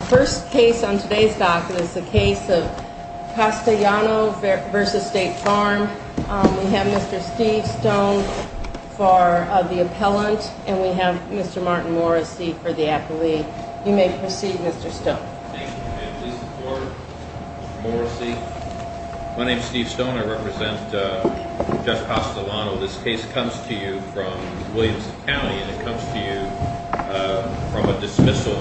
The first case on today's document is the case of Castellano v. State Farm. We have Mr. Steve Stone for the appellant, and we have Mr. Martin Morrissey for the appellee. You may proceed, Mr. Stone. Thank you, ma'am. Please support Mr. Morrissey. My name is Steve Stone. I represent Judge Castellano. This case comes to you from Williamson County, and it comes to you from a dismissal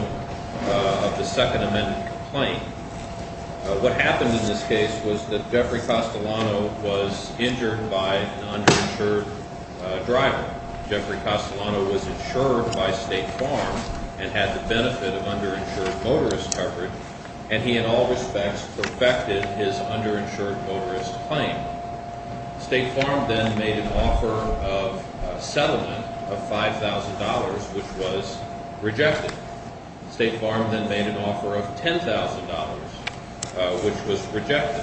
of the Second Amendment complaint. What happened in this case was that Jeffrey Castellano was injured by an underinsured driver. Jeffrey Castellano was insured by State Farm and had the benefit of underinsured motorist coverage, and he, in all respects, perfected his underinsured motorist claim. State Farm then made an offer of a settlement of $5,000, which was rejected. State Farm then made an offer of $10,000, which was rejected.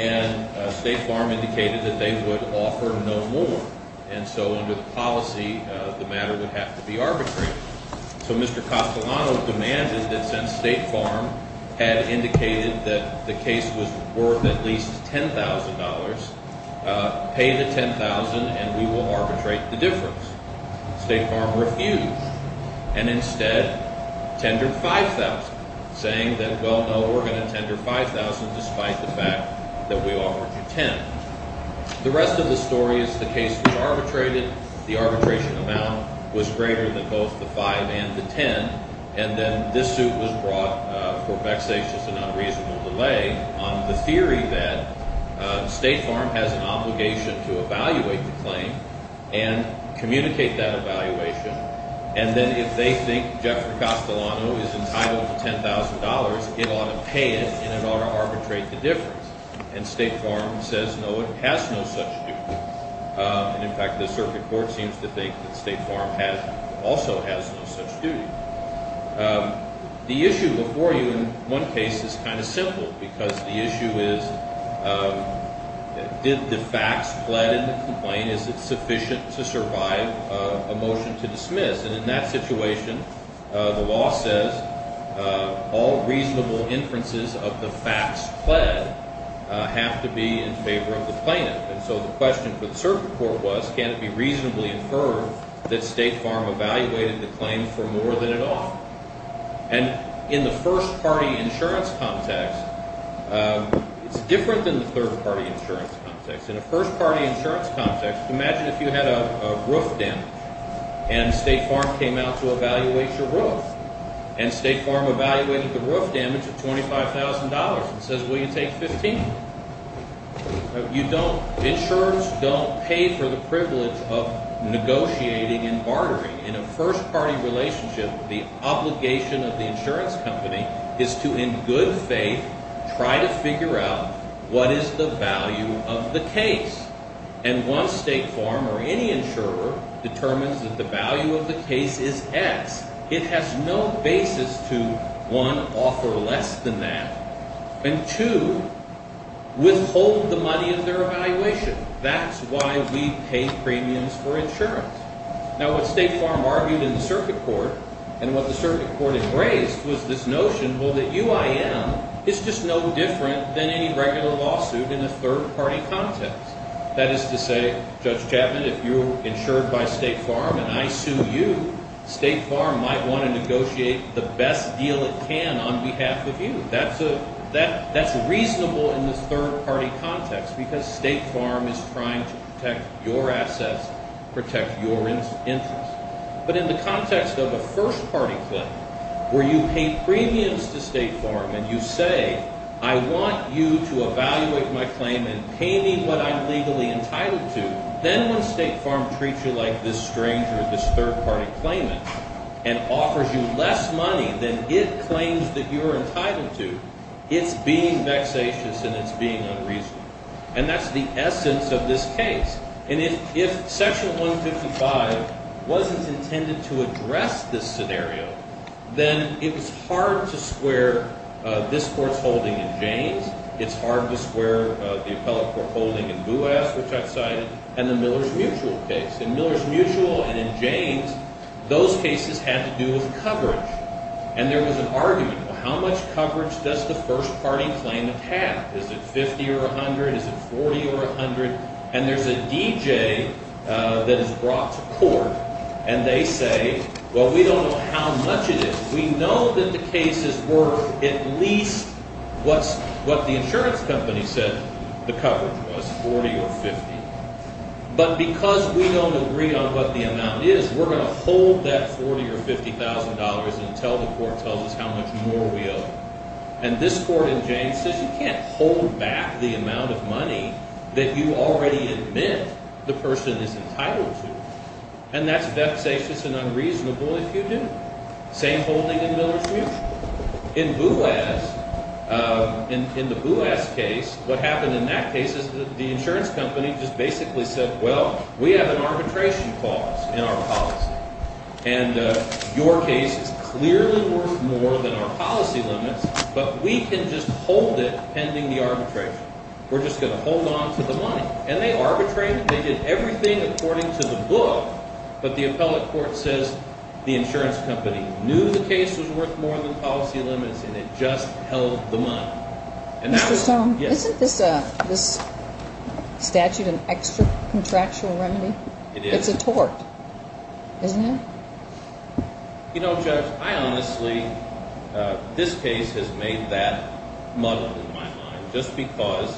And State Farm indicated that they would offer no more, and so under the policy, the matter would have to be arbitrary. So Mr. Castellano demanded that since State Farm had indicated that the case was worth at least $10,000, pay the $10,000 and we will arbitrate the difference. State Farm refused and instead tendered $5,000, saying that, well, no, we're going to tender $5,000 despite the fact that we offered you $10,000. The rest of the story is the case was arbitrated. The arbitration amount was greater than both the $5,000 and the $10,000, and then this suit was brought for vexatious and unreasonable delay on the theory that State Farm has an obligation to evaluate the claim and communicate that evaluation, and then if they think Jeffrey Castellano is entitled to $10,000, it ought to pay it and it ought to arbitrate the difference. And State Farm says, no, it has no such duty. And in fact, the circuit court seems to think that State Farm also has no such duty. The issue before you in one case is kind of simple because the issue is did the facts pled in the complaint? Is it sufficient to survive a motion to dismiss? And in that situation, the law says all reasonable inferences of the facts pled have to be in favor of the plaintiff. And so the question for the circuit court was can it be reasonably inferred that State Farm evaluated the claim for more than at all? And in the first-party insurance context, it's different than the third-party insurance context. In a first-party insurance context, imagine if you had a roof damage and State Farm came out to evaluate your roof, and State Farm evaluated the roof damage at $25,000 and says, will you take $15,000? Insurance don't pay for the privilege of negotiating and bartering. In a first-party relationship, the obligation of the insurance company is to, in good faith, try to figure out what is the value of the case. And once State Farm or any insurer determines that the value of the case is X, it has no basis to, one, offer less than that. And two, withhold the money of their evaluation. That's why we pay premiums for insurance. Now, what State Farm argued in the circuit court and what the circuit court embraced was this notion, well, that UIM is just no different than any regular lawsuit in a third-party context. That is to say, Judge Chapman, if you're insured by State Farm and I sue you, State Farm might want to negotiate the best deal it can on behalf of you. That's reasonable in the third-party context because State Farm is trying to protect your assets, protect your interests. But in the context of a first-party claim where you pay premiums to State Farm and you say, I want you to evaluate my claim and pay me what I'm legally entitled to, then when State Farm treats you like this stranger, this third-party claimant, and offers you less money than it claims that you're entitled to, it's being vexatious and it's being unreasonable. And that's the essence of this case. And if Section 155 wasn't intended to address this scenario, then it was hard to square this Court's holding in Jaynes. It's hard to square the appellate court holding in Bouas, which I've cited, and the Miller's Mutual case. In Miller's Mutual and in Jaynes, those cases had to do with coverage. And there was an argument, well, how much coverage does the first-party claimant have? Is it 50 or 100? Is it 40 or 100? And there's a DJ that is brought to court, and they say, well, we don't know how much it is. We know that the case is worth at least what the insurance company said the coverage was, 40 or 50. But because we don't agree on what the amount is, we're going to hold that 40 or $50,000 until the court tells us how much more we owe. And this court in Jaynes says you can't hold back the amount of money that you already admit the person is entitled to. And that's devastatious and unreasonable if you do. Same holding in Miller's Mutual. In Bouas, in the Bouas case, what happened in that case is the insurance company just basically said, well, we have an arbitration clause in our policy. And your case is clearly worth more than our policy limits. But we can just hold it pending the arbitration. We're just going to hold on to the money. And they arbitrated. They did everything according to the book. But the appellate court says the insurance company knew the case was worth more than policy limits, and it just held the money. And that was ‑‑ Mr. Stone, isn't this statute an extra contractual remedy? It is. It's a tort. Isn't it? You know, Judge, I honestly ‑‑ this case has made that muddled in my mind just because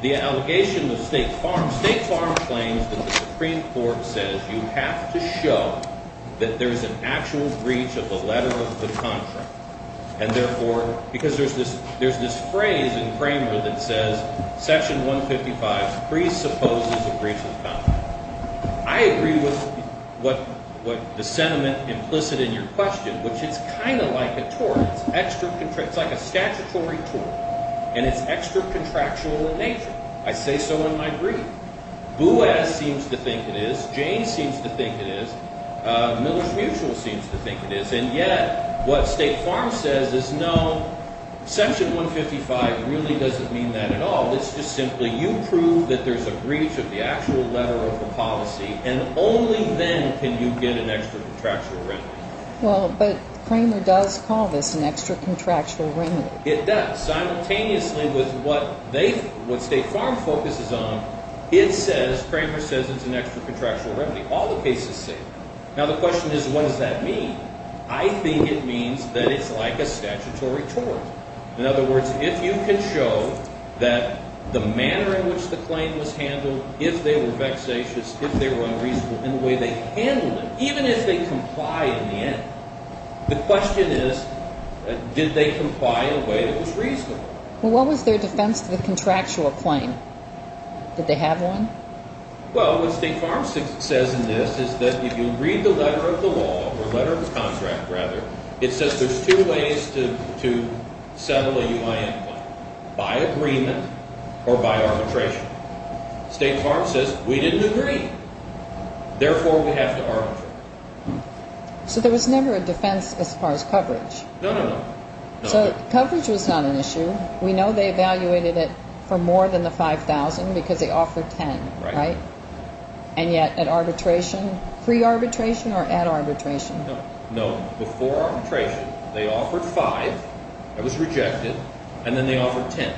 the allegation of state farm claims that the Supreme Court says you have to show that there's an actual breach of the letter of the contract. And therefore ‑‑ because there's this phrase in Kramer that says section 155 presupposes a breach of contract. I agree with what the sentiment implicit in your question, which it's kind of like a tort. It's extra ‑‑ it's like a statutory tort. And it's extra contractual in nature. I say so in my brief. Bouaz seems to think it is. Jane seems to think it is. Miller's Mutual seems to think it is. And yet what state farm says is, no, section 155 really doesn't mean that at all. It's just simply you prove that there's a breach of the actual letter of the policy, and only then can you get an extra contractual remedy. Well, but Kramer does call this an extra contractual remedy. It does. Simultaneously with what they ‑‑ what state farm focuses on, it says ‑‑ Kramer says it's an extra contractual remedy. All the cases say that. Now, the question is, what does that mean? I think it means that it's like a statutory tort. In other words, if you can show that the manner in which the claim was handled, if they were vexatious, if they were unreasonable, and the way they handled it, even if they complied in the end, the question is, did they comply in a way that was reasonable? Well, what was their defense to the contractual claim? Did they have one? Well, what state farm says in this is that if you read the letter of the law, or letter of the contract, rather, it says there's two ways to settle a UIN claim, by agreement or by arbitration. State farm says, we didn't agree. Therefore, we have to arbitrate. So there was never a defense as far as coverage. No, no, no. So coverage was not an issue. We know they evaluated it for more than the 5,000 because they offered 10, right? And yet at arbitration, pre-arbitration or at arbitration? No, no. Before arbitration, they offered 5. It was rejected. And then they offered 10.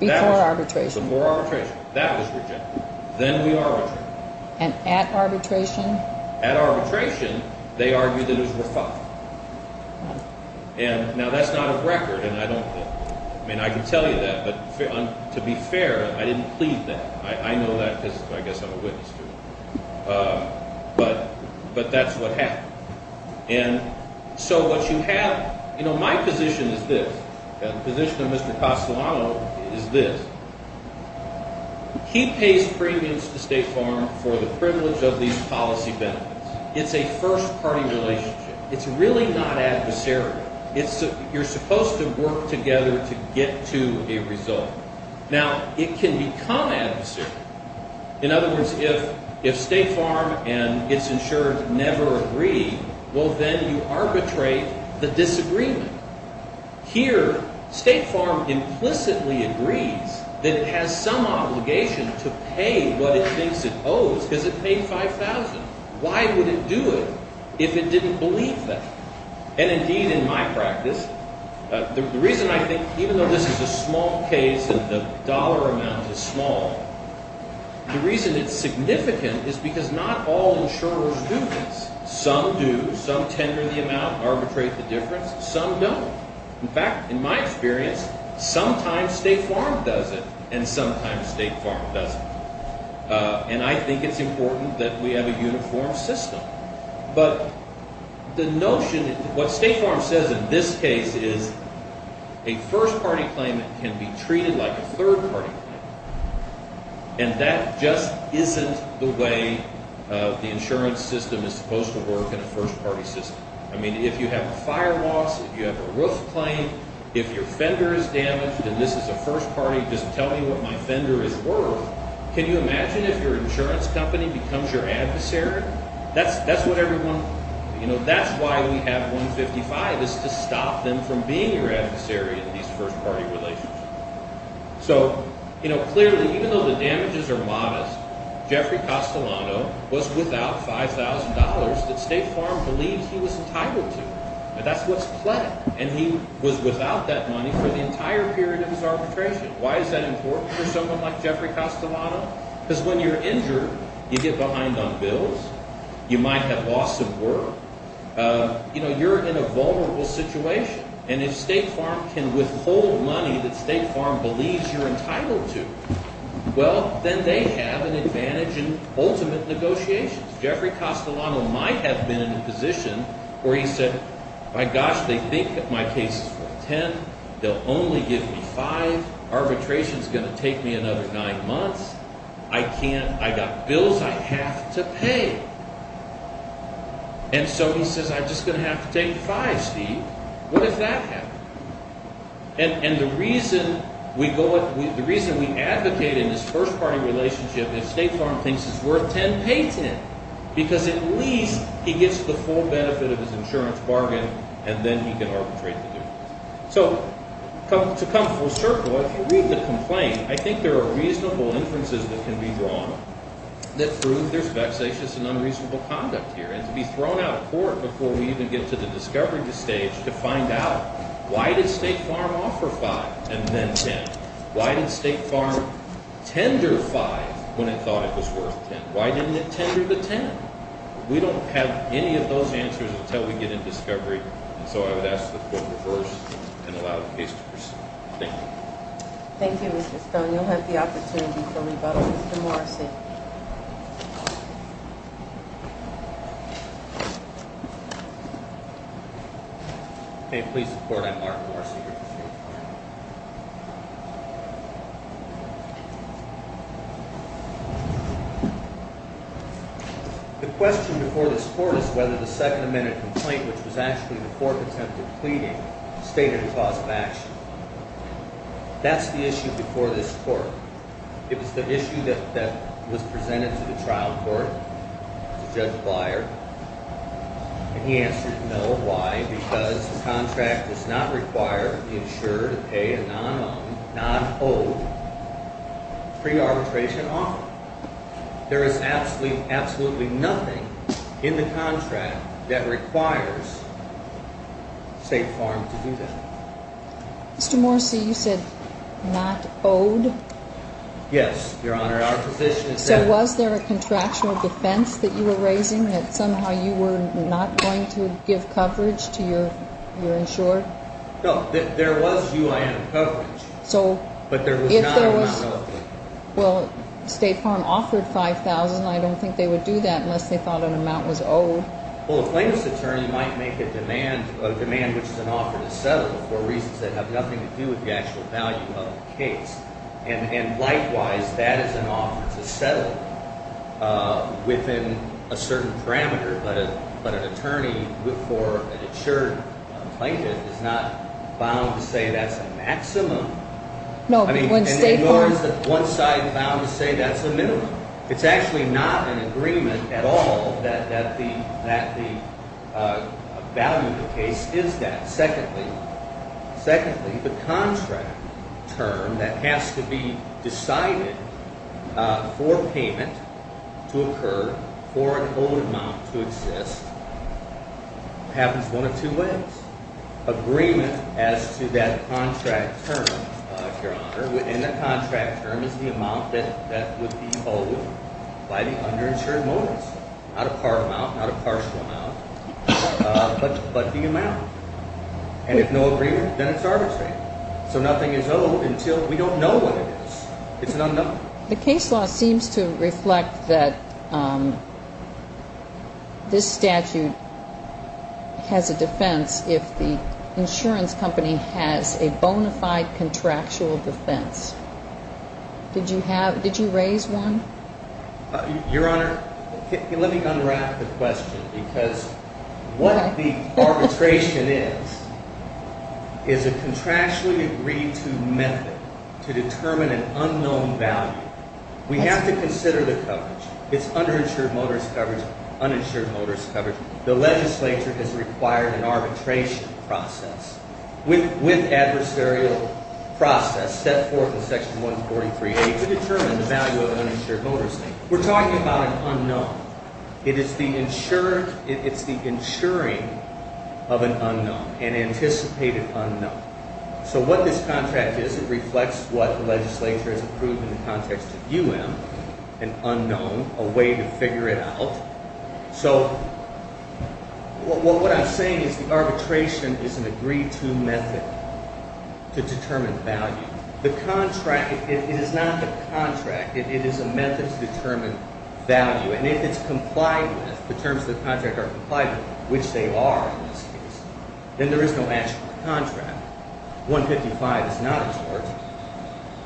Before arbitration? Before arbitration. That was rejected. Then we arbitrated. And at arbitration? At arbitration, they argued that it was worth 5. And now that's not a record, and I don't think – I mean, I can tell you that, but to be fair, I didn't plead that. I know that because I guess I'm a witness to it. But that's what happened. And so what you have – you know, my position is this. The position of Mr. Castellano is this. He pays premiums to State Farm for the privilege of these policy benefits. It's a first-party relationship. It's really not adversarial. You're supposed to work together to get to a result. Now, it can become adversarial. In other words, if State Farm and its insurer never agree, well, then you arbitrate the disagreement. Here, State Farm implicitly agrees that it has some obligation to pay what it thinks it owes because it paid 5,000. Why would it do it if it didn't believe that? And indeed, in my practice, the reason I think – even though this is a small case and the dollar amount is small, the reason it's significant is because not all insurers do this. Some do. Some tender the amount, arbitrate the difference. Some don't. In fact, in my experience, sometimes State Farm does it and sometimes State Farm doesn't. And I think it's important that we have a uniform system. But the notion – what State Farm says in this case is a first-party claimant can be treated like a third-party claimant. And that just isn't the way the insurance system is supposed to work in a first-party system. I mean, if you have a fire loss, if you have a roof claim, if your fender is damaged and this is a first-party, just tell me what my fender is worth. Can you imagine if your insurance company becomes your adversary? That's what everyone – that's why we have 155 is to stop them from being your adversary in these first-party relationships. So clearly, even though the damages are modest, Jeffrey Castellano was without $5,000 that State Farm believes he was entitled to. That's what's pledged. And he was without that money for the entire period of his arbitration. Why is that important for someone like Jeffrey Castellano? Because when you're injured, you get behind on bills. You might have lost some work. You're in a vulnerable situation. And if State Farm can withhold money that State Farm believes you're entitled to, well, then they have an advantage in ultimate negotiations. Jeffrey Castellano might have been in a position where he said, my gosh, they think my case is worth $10,000. They'll only give me $5,000. Arbitration is going to take me another nine months. I can't – I got bills I have to pay. And so he says, I'm just going to have to take $5,000, Steve. What if that happened? And the reason we go – the reason we advocate in this first-party relationship if State Farm thinks it's worth $10,000, pay $10,000. Because at least he gets the full benefit of his insurance bargain, and then he can arbitrate the deal. So to come full circle, if you read the complaint, I think there are reasonable inferences that can be drawn that prove there's vexatious and unreasonable conduct here. And to be thrown out of court before we even get to the discovery stage to find out why did State Farm offer $5,000 and then $10,000? Why did State Farm tender $5,000 when it thought it was worth $10,000? Why didn't it tender the $10,000? We don't have any of those answers until we get in discovery. And so I would ask that the Court reverse and allow the case to proceed. Thank you. Thank you, Mr. Stone. You'll have the opportunity for rebuttal. Mr. Morrison. Okay, please support. I'm Mark Morrison. The question before this Court is whether the Second Amendment complaint, which was actually the Court's attempt at pleading, stated a cause of action. That's the issue before this Court. It was the issue that was presented to the trial court, to Judge Beyer. And he answered no. Why? Because the contract does not require the insurer to pay a non-owed pre-arbitration offer. There is absolutely nothing in the contract that requires State Farm to do that. Mr. Morrissey, you said not owed? Yes, Your Honor. So was there a contractual defense that you were raising that somehow you were not going to give coverage to your insurer? No. There was UIN coverage. But there was not an amount relative. Well, State Farm offered $5,000, and I don't think they would do that unless they thought an amount was owed. Well, a plaintiff's attorney might make a demand which is an offer to settle for reasons that have nothing to do with the actual value of the case. And likewise, that is an offer to settle within a certain parameter. But an attorney for an insured plaintiff is not bound to say that's a maximum. No, when State Farm- And nor is one side bound to say that's a minimum. It's actually not an agreement at all that the value of the case is that. Secondly, the contract term that has to be decided for payment to occur for an owed amount to exist happens one of two ways. Agreement as to that contract term, Your Honor, within the contract term is the amount that would be owed by the underinsured motives. Not a part amount, not a partial amount, but the amount. And if no agreement, then it's arbitrary. So nothing is owed until we don't know what it is. It's an unknown. The case law seems to reflect that this statute has a defense if the insurance company has a bona fide contractual defense. Did you raise one? Your Honor, let me unwrap the question because what the arbitration is, is a contractually agreed to method to determine an unknown value. We have to consider the coverage. It's underinsured motives coverage, uninsured motives coverage. The legislature has required an arbitration process with adversarial process set forth in Section 143A to determine the value of an uninsured motive statement. We're talking about an unknown. It is the insuring of an unknown, an anticipated unknown. So what this contract is, it reflects what the legislature has approved in the context of UM, an unknown, a way to figure it out. So what I'm saying is the arbitration is an agreed to method to determine value. The contract, it is not the contract. It is a method to determine value. And if it's complied with, the terms of the contract are complied with, which they are in this case, then there is no action on the contract. 155 is not a charge.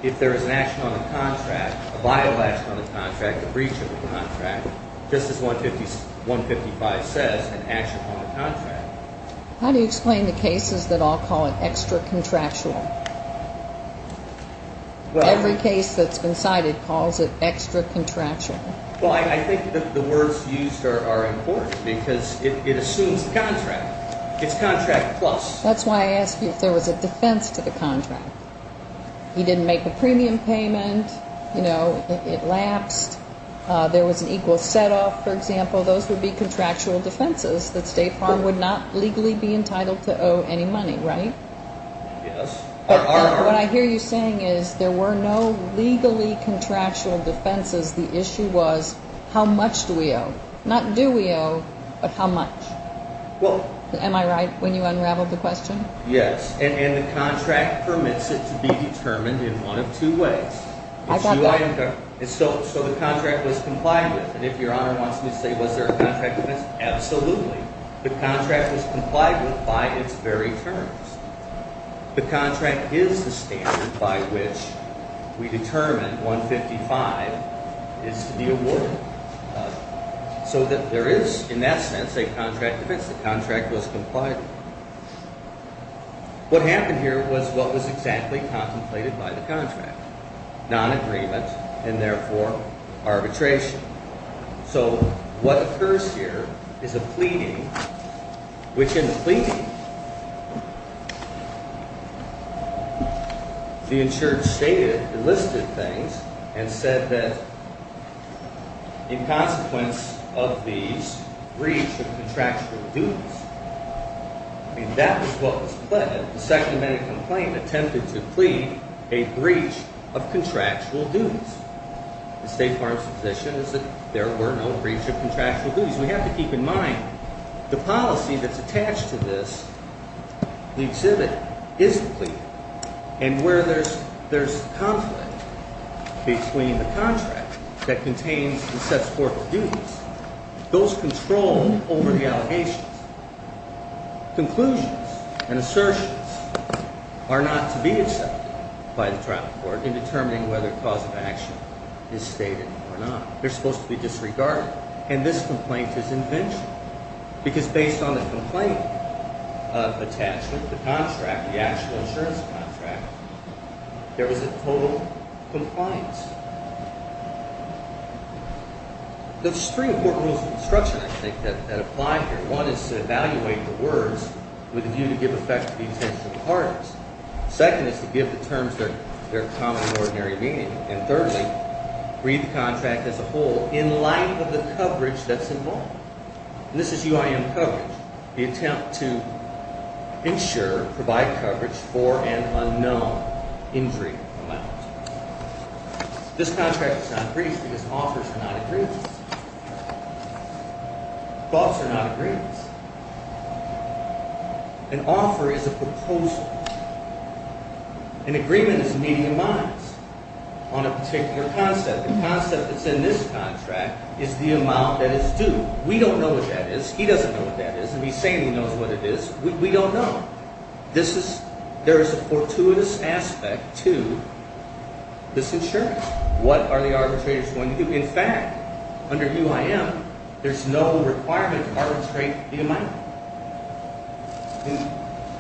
If there is an action on the contract, a violation on the contract, a breach of the contract, just as 155 says, an action on the contract. How do you explain the cases that all call it extra-contractual? Every case that's been cited calls it extra-contractual. Well, I think that the words used are important because it assumes the contract. It's contract plus. That's why I asked you if there was a defense to the contract. He didn't make a premium payment. You know, it lapsed. There was an equal set-off, for example. Those would be contractual defenses that State Farm would not legally be entitled to owe any money, right? Yes. What I hear you saying is there were no legally contractual defenses. The issue was how much do we owe? Not do we owe, but how much? Am I right when you unraveled the question? Yes, and the contract permits it to be determined in one of two ways. So the contract was complied with, and if Your Honor wants me to say was there a contract defense, absolutely. The contract was complied with by its very terms. The contract is the standard by which we determine 155 is to be awarded. So there is, in that sense, a contract defense. The contract was complied with. What happened here was what was exactly contemplated by the contract, nonagreement and therefore arbitration. So what occurs here is a pleading, which in the pleading, the insured stated, enlisted things, and said that in consequence of these, breach of contractual duties. I mean, that was what was pleaded. The Second Amendment complaint attempted to plead a breach of contractual duties. The State Farm's position is that there were no breach of contractual duties. We have to keep in mind the policy that's attached to this, the exhibit, is the plea. And where there's conflict between the contract that contains and sets corporate duties, those control over the allegations. Conclusions and assertions are not to be accepted by the trial court in determining whether cause of action is stated or not. They're supposed to be disregarded. And this complaint is invention because based on the complaint attachment, the contract, the actual insurance contract, there was a total compliance. There's three important rules of construction, I think, that apply here. One is to evaluate the words with a view to give effect to the intentional parties. Second is to give the terms their common and ordinary meaning. And thirdly, read the contract as a whole in light of the coverage that's involved. And this is UIM coverage, the attempt to insure, provide coverage for an unknown injury amount. This contract is not briefed because offers are not agreed. Thoughts are not agreements. An offer is a proposal. An agreement is a meeting of minds on a particular concept. The concept that's in this contract is the amount that is due. We don't know what that is. He doesn't know what that is. And he's saying he knows what it is. We don't know. There is a fortuitous aspect to this insurance. What are the arbitrators going to do? In fact, under UIM, there's no requirement to arbitrate the amount.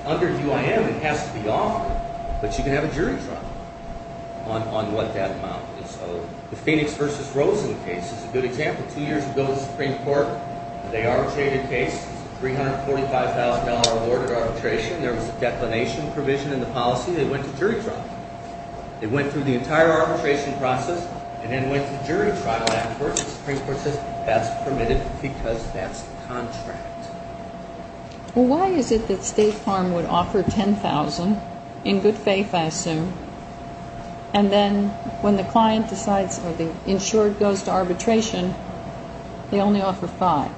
Under UIM, it has to be offered. But you can have a jury trial on what that amount is owed. The Phoenix v. Rosen case is a good example. Two years ago, the Supreme Court, they arbitrated a case, $345,000 awarded arbitration. There was a declination provision in the policy. They went to jury trial. They went through the entire arbitration process and then went to jury trial afterwards. The Supreme Court says that's permitted because that's the contract. Well, why is it that State Farm would offer $10,000 in good faith, I assume, and then when the client decides or the insured goes to arbitration, they only offer $5,000?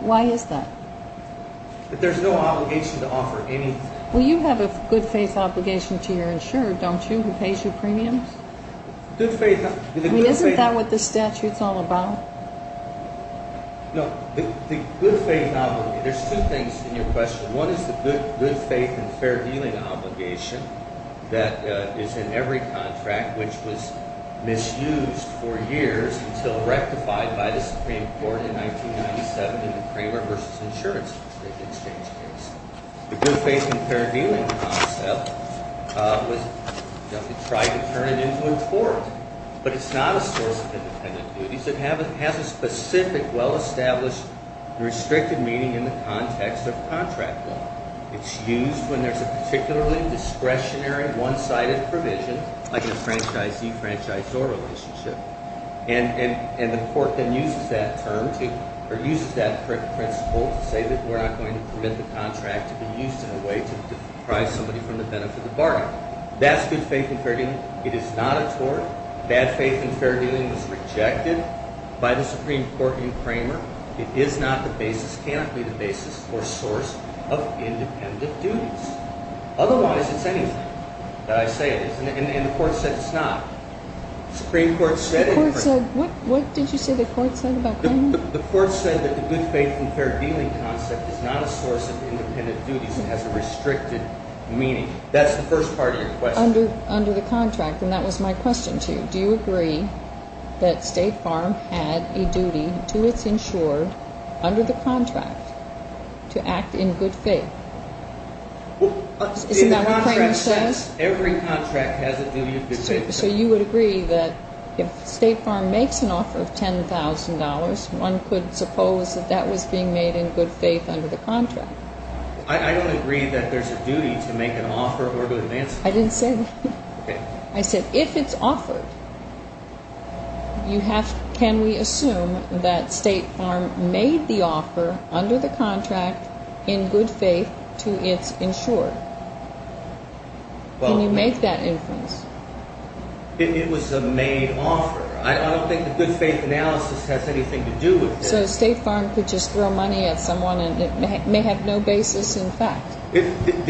Why is that? There's no obligation to offer anything. Well, you have a good faith obligation to your insured, don't you, who pays you premiums? Isn't that what the statute's all about? No, the good faith obligation. There's two things in your question. One is the good faith and fair dealing obligation that is in every contract which was misused for years until rectified by the Supreme Court in 1997 in the Kramer v. Insurance Exchange case. The good faith and fair dealing concept was tried to turn it into a court, but it's not a source of independent duties. It has a specific, well-established, restricted meaning in the context of contract law. It's used when there's a particularly discretionary, one-sided provision, like a franchisee-franchisor relationship, and the court then uses that principle to say that we're not going to permit the contract to be used in a way to deprive somebody from the benefit of the bargain. That's good faith and fair dealing. It is not a tort. Bad faith and fair dealing was rejected by the Supreme Court in Kramer. It is not the basis, cannot be the basis or source of independent duties. Otherwise, it's anything that I say it is, and the court said it's not. What did you say the court said about Kramer? The court said that the good faith and fair dealing concept is not a source of independent duties. It has a restricted meaning. That's the first part of your question. Under the contract, and that was my question to you, do you agree that State Farm had a duty to its insured under the contract to act in good faith? Isn't that what Kramer says? Every contract has a duty of good faith. So you would agree that if State Farm makes an offer of $10,000, one could suppose that that was being made in good faith under the contract. I don't agree that there's a duty to make an offer of good faith. I didn't say that. Okay. I said if it's offered, can we assume that State Farm made the offer under the contract in good faith to its insured? Can you make that inference? It was a made offer. I don't think the good faith analysis has anything to do with it. So State Farm could just throw money at someone and it may have no basis in fact. I've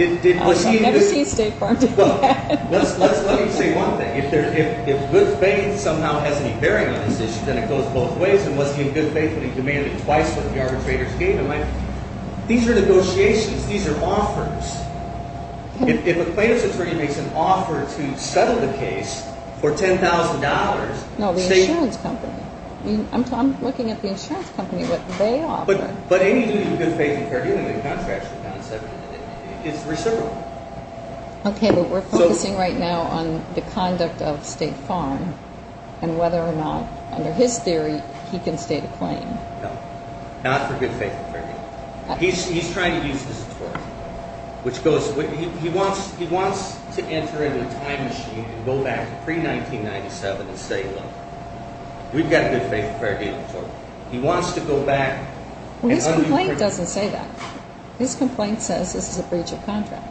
never seen State Farm do that. Let me say one thing. If good faith somehow has any bearing on this issue, then it goes both ways. And was he in good faith when he demanded twice what the arbitrators gave him? These are negotiations. These are offers. If a plaintiff's attorney makes an offer to settle the case for $10,000. No, the insurance company. I'm looking at the insurance company, what they offer. But any duty of good faith in fair dealing in the contract is reciprocal. Okay, but we're focusing right now on the conduct of State Farm and whether or not under his theory he can state a claim. No, not for good faith in fair dealing. He's trying to use this authority. He wants to enter into a time machine and go back to pre-1997 and say, look, we've got a good faith in fair dealing authority. He wants to go back. Well, his complaint doesn't say that. His complaint says this is a breach of contract.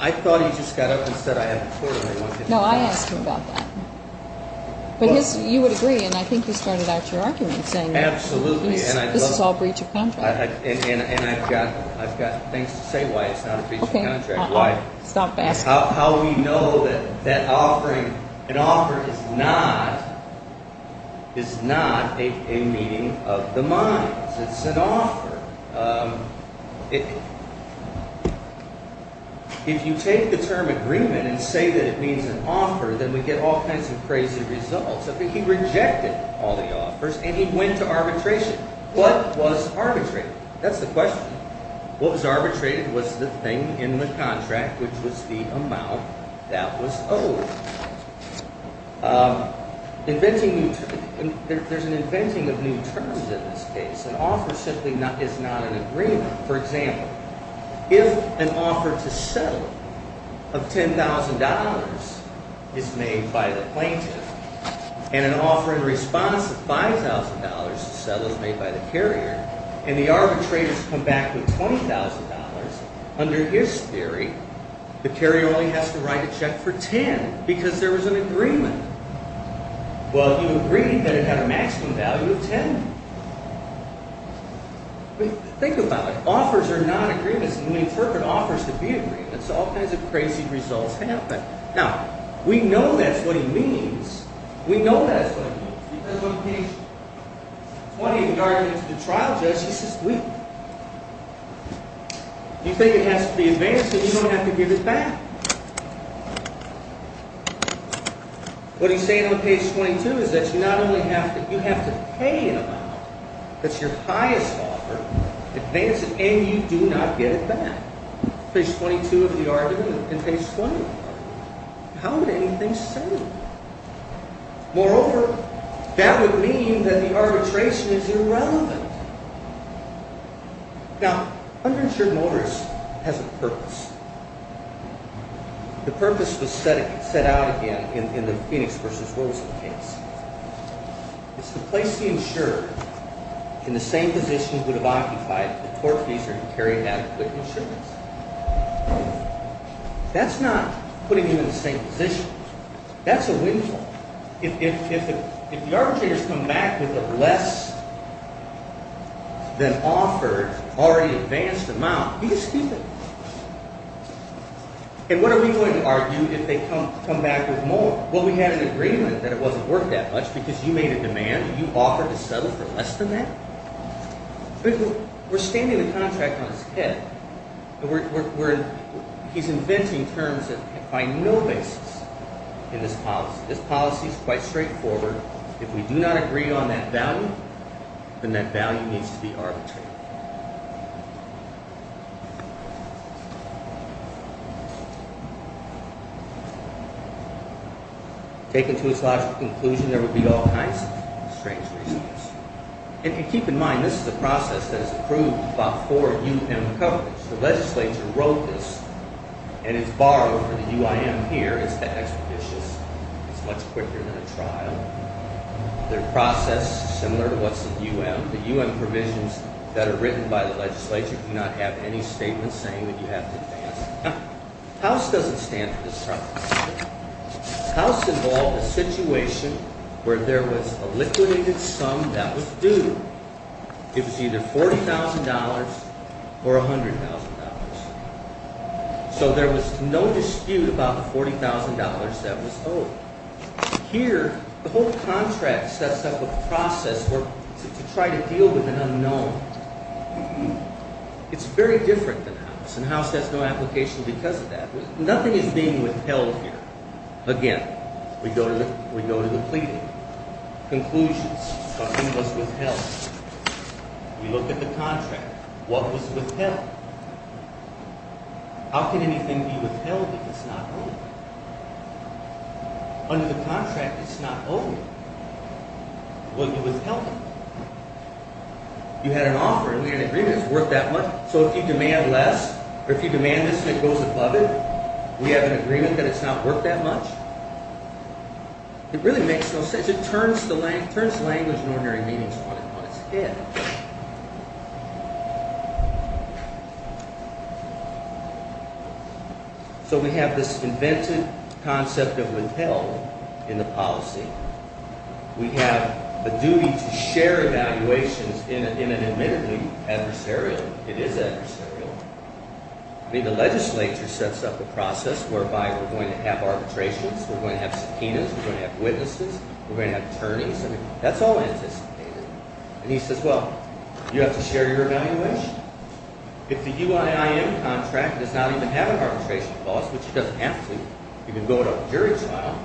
I thought he just got up and said I have authority. No, I asked him about that. But you would agree, and I think you started out your argument saying that. Absolutely. This is all breach of contract. And I've got things to say why it's not a breach of contract. Okay, stop asking. How we know that an offer is not a meeting of the minds. It's an offer. If you take the term agreement and say that it means an offer, then we get all kinds of crazy results. He rejected all the offers, and he went to arbitration. What was arbitrated? That's the question. What was arbitrated was the thing in the contract, which was the amount that was owed. Inventing new terms. There's an inventing of new terms in this case. An offer simply is not an agreement. For example, if an offer to settle of $10,000 is made by the plaintiff and an offer in response of $5,000 to settle is made by the carrier, and the arbitrators come back with $20,000, under his theory, the carrier only has to write a check for 10 because there was an agreement. Well, he agreed that it had a maximum value of 10. Think about it. Offers are not agreements. When we interpret offers to be agreements, all kinds of crazy results happen. Now, we know that's what he means. We know that's what he means. Because on page 20, in regard to the trial judge, he says, You think it has to be advanced, but you don't have to give it back. What he's saying on page 22 is that you not only have to, you have to pay an amount that's your highest offer, advance it, and you do not get it back. Page 22 of the argument and page 20 of the argument. How would anything say that? Moreover, that would mean that the arbitration is irrelevant. Now, uninsured mortgage has a purpose. The purpose was set out again in the Phoenix versus Wilson case. It's the place he insured in the same position he would have occupied if the tortfeasor and the carrier had a quick new shipment. That's not putting you in the same position. That's a windfall. If the arbitrators come back with a less than offered, already advanced amount, be a stupid. And what are we going to argue if they come back with more? Will we have an agreement that it wasn't worth that much because you made a demand and you offered to settle for less than that? We're standing the contract on its head. He's inventing terms that find no basis in this policy. This policy is quite straightforward. If we do not agree on that value, then that value needs to be arbitrated. Taken to its logical conclusion, there would be all kinds of strange reasons. If you keep in mind, this is a process that is approved by four U.M. governments. The legislature wrote this, and it's borrowed from the U.I.M. here. It's expeditious. It's much quicker than a trial. The process is similar to what's in the U.M. The U.M. provisions that are written by the legislature do not have any statements saying that you have to advance. House doesn't stand for this problem. House involved a situation where there was a liquidated sum that was due. It was either $40,000 or $100,000. So there was no dispute about the $40,000 that was owed. Here, the whole contract sets up a process to try to deal with an unknown. It's very different than House, and House has no application because of that. Nothing is being withheld here. Again, we go to the pleading. Conclusions. Something was withheld. We look at the contract. What was withheld? How can anything be withheld if it's not owed? Under the contract, it's not owed. It was withheld. You had an offer. We had an agreement. It's worth that much. So if you demand less, or if you demand this and it goes above it, we have an agreement that it's not worth that much? It really makes no sense. It turns language and ordinary meanings on its head. So we have this invented concept of withheld in the policy. We have a duty to share evaluations in an admittedly adversarial, it is adversarial. I mean, the legislature sets up a process whereby we're going to have arbitrations, we're going to have subpoenas, we're going to have witnesses, we're going to have attorneys. I mean, that's all anticipated. And he says, well, you have to share your evaluation. If the EYIM contract does not even have an arbitration clause, which it doesn't have to, you can go to a jury trial.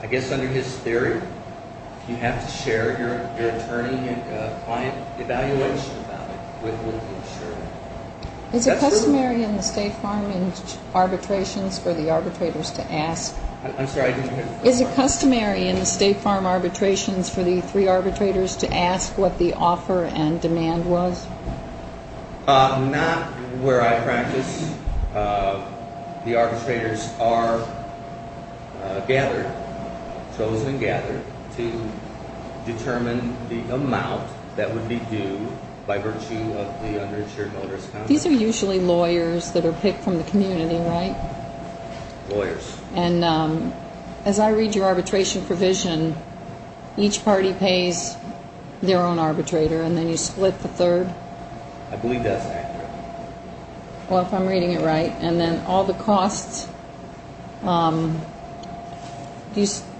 I guess under his theory, you have to share your attorney and client evaluation about it with the insurer. Is it customary in the State Farm arbitrations for the arbitrators to ask? I'm sorry, I didn't hear the first part. Is it customary in the State Farm arbitrations for the three arbitrators to ask what the offer and demand was? Not where I practice. The arbitrators are gathered, chosen and gathered to determine the amount that would be due by virtue of the uninsured notary's contract. These are usually lawyers that are picked from the community, right? Lawyers. And as I read your arbitration provision, each party pays their own arbitrator, and then you split the third. I believe that's accurate. Well, if I'm reading it right. And then all the costs.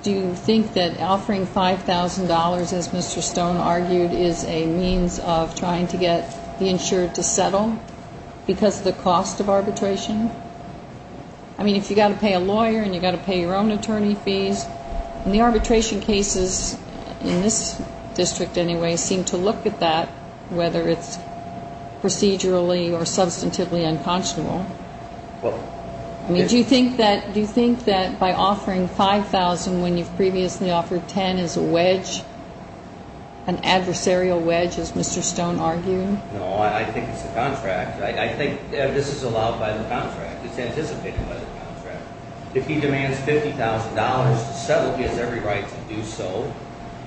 Do you think that offering $5,000, as Mr. Stone argued, is a means of trying to get the insured to settle because of the cost of arbitration? I mean, if you've got to pay a lawyer and you've got to pay your own attorney fees. And the arbitration cases, in this district anyway, seem to look at that, whether it's procedurally or substantively unconscionable. Do you think that by offering $5,000 when you've previously offered $10,000 is a wedge, an adversarial wedge, as Mr. Stone argued? No, I think it's a contract. I think this is allowed by the contract. It's anticipated by the contract. If he demands $50,000 to settle, he has every right to do so.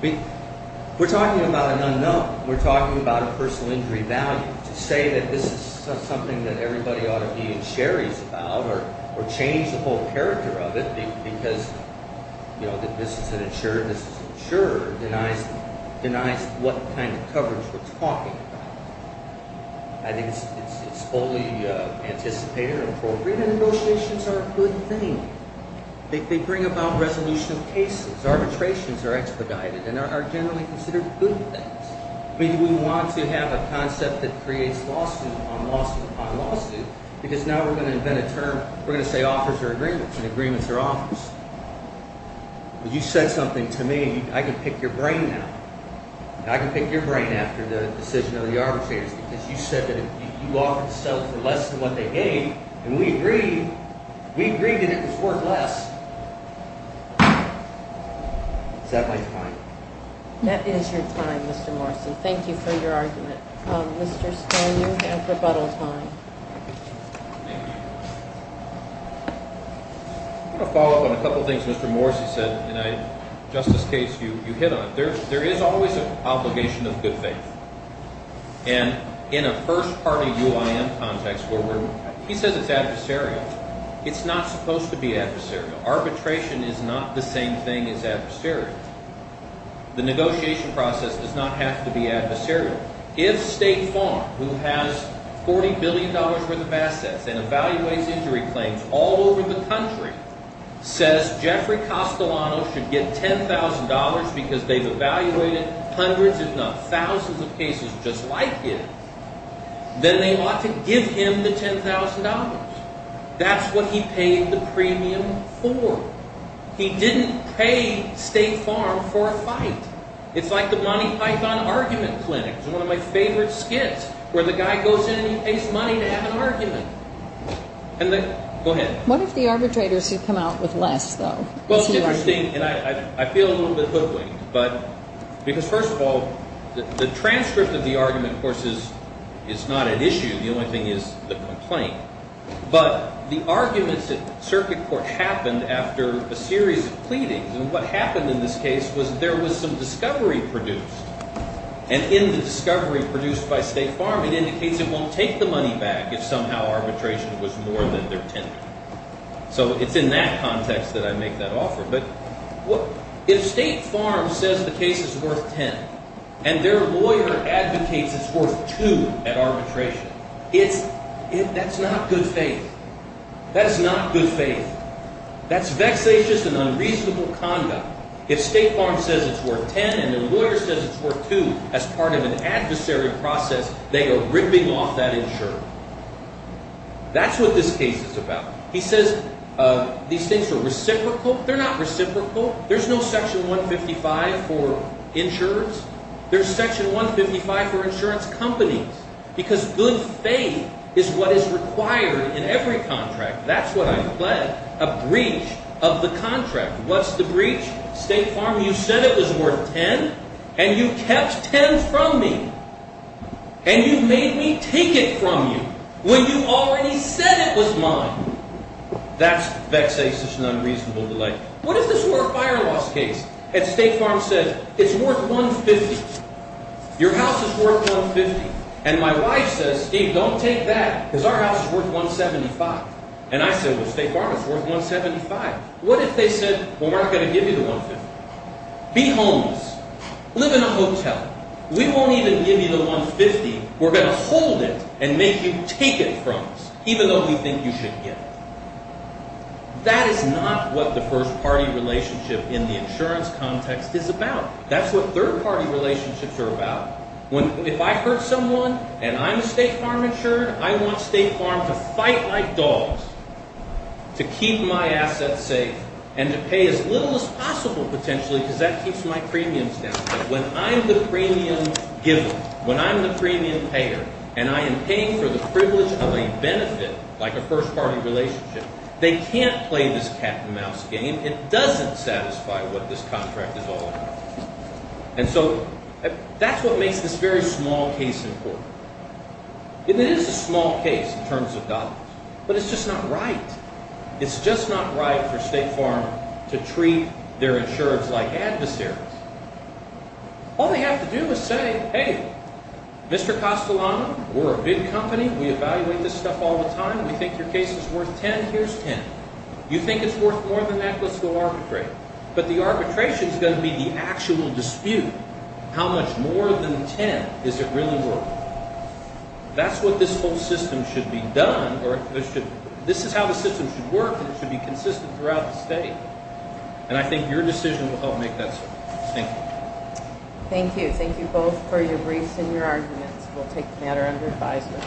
We're talking about an unknown. We're talking about a personal injury value. To say that this is something that everybody ought to be insurers about or change the whole character of it because, you know, this is an insurer, this is an insurer, denies what kind of coverage we're talking about. I think it's fully anticipated and appropriate, and negotiations are a good thing. They bring about resolution of cases. Arbitrations are expedited and are generally considered good things. I mean, we want to have a concept that creates lawsuit upon lawsuit upon lawsuit because now we're going to invent a term. We're going to say offers are agreements, and agreements are offers. You said something to me. I can pick your brain now. I can pick your brain after the decision of the arbitrators because you said that you offered to settle for less than what they gave, and we agreed that it was worth less. Does that make sense? That is your time, Mr. Morrison. Thank you for your argument. Mr. Stoner, you have rebuttal time. I'm going to follow up on a couple of things Mr. Morrissey said in a justice case you hit on. There is always an obligation of good faith, and in a first-party UIN context where he says it's adversarial, it's not supposed to be adversarial. Arbitration is not the same thing as adversarial. The negotiation process does not have to be adversarial. If State Farm, who has $40 billion worth of assets and evaluates injury claims all over the country, says Jeffrey Castellanos should get $10,000 because they've evaluated hundreds if not thousands of cases just like him, then they ought to give him the $10,000. That's what he paid the premium for. He didn't pay State Farm for a fight. It's like the Monty Python argument clinic. It's one of my favorite skits where the guy goes in and he pays money to have an argument. Go ahead. What if the arbitrators had come out with less, though? Well, it's interesting, and I feel a little bit hoodwinked, because first of all, the transcript of the argument, of course, is not at issue. The only thing is the complaint. But the arguments at circuit court happened after a series of pleadings. And what happened in this case was there was some discovery produced. And in the discovery produced by State Farm, it indicates it won't take the money back if somehow arbitration was more than their tender. So it's in that context that I make that offer. But if State Farm says the case is worth $10,000 and their lawyer advocates it's worth $2,000 at arbitration, that's not good faith. That is not good faith. That's vexatious and unreasonable conduct. If State Farm says it's worth $10,000 and their lawyer says it's worth $2,000 as part of an adversary process, they are ripping off that insurer. That's what this case is about. He says these things are reciprocal. They're not reciprocal. There's no Section 155 for insurers. There's Section 155 for insurance companies, because good faith is what is required in every contract. That's what I fled, a breach of the contract. What's the breach? State Farm, you said it was worth $10,000, and you kept $10,000 from me. And you made me take it from you when you already said it was mine. That's vexatious and unreasonable. What if this were a fire laws case and State Farm said it's worth $150,000? Your house is worth $150,000. And my wife says, Steve, don't take that, because our house is worth $175,000. And I say, well, State Farm is worth $175,000. What if they said, well, we're not going to give you the $150,000? Be homeless. Live in a hotel. We won't even give you the $150,000. We're going to hold it and make you take it from us, even though we think you should get it. That is not what the first-party relationship in the insurance context is about. That's what third-party relationships are about. If I hurt someone and I'm State Farm insured, I want State Farm to fight like dogs to keep my assets safe and to pay as little as possible, potentially, because that keeps my premiums down. But when I'm the premium giver, when I'm the premium payer, and I am paying for the privilege of a benefit like a first-party relationship, they can't play this cat-and-mouse game. It doesn't satisfy what this contract is all about. And so that's what makes this very small case important. It is a small case in terms of dollars, but it's just not right. It's just not right for State Farm to treat their insurers like adversaries. All they have to do is say, hey, Mr. Costolano, we're a big company. We evaluate this stuff all the time. We think your case is worth $10. Here's $10. You think it's worth more than that? Let's go arbitrate. But the arbitration is going to be the actual dispute. How much more than $10 is it really worth? That's what this whole system should be done. This is how the system should work, and it should be consistent throughout the state. And I think your decision will help make that so. Thank you. Thank you. Thank you both for your briefs and your arguments. We'll take the matter under advisement.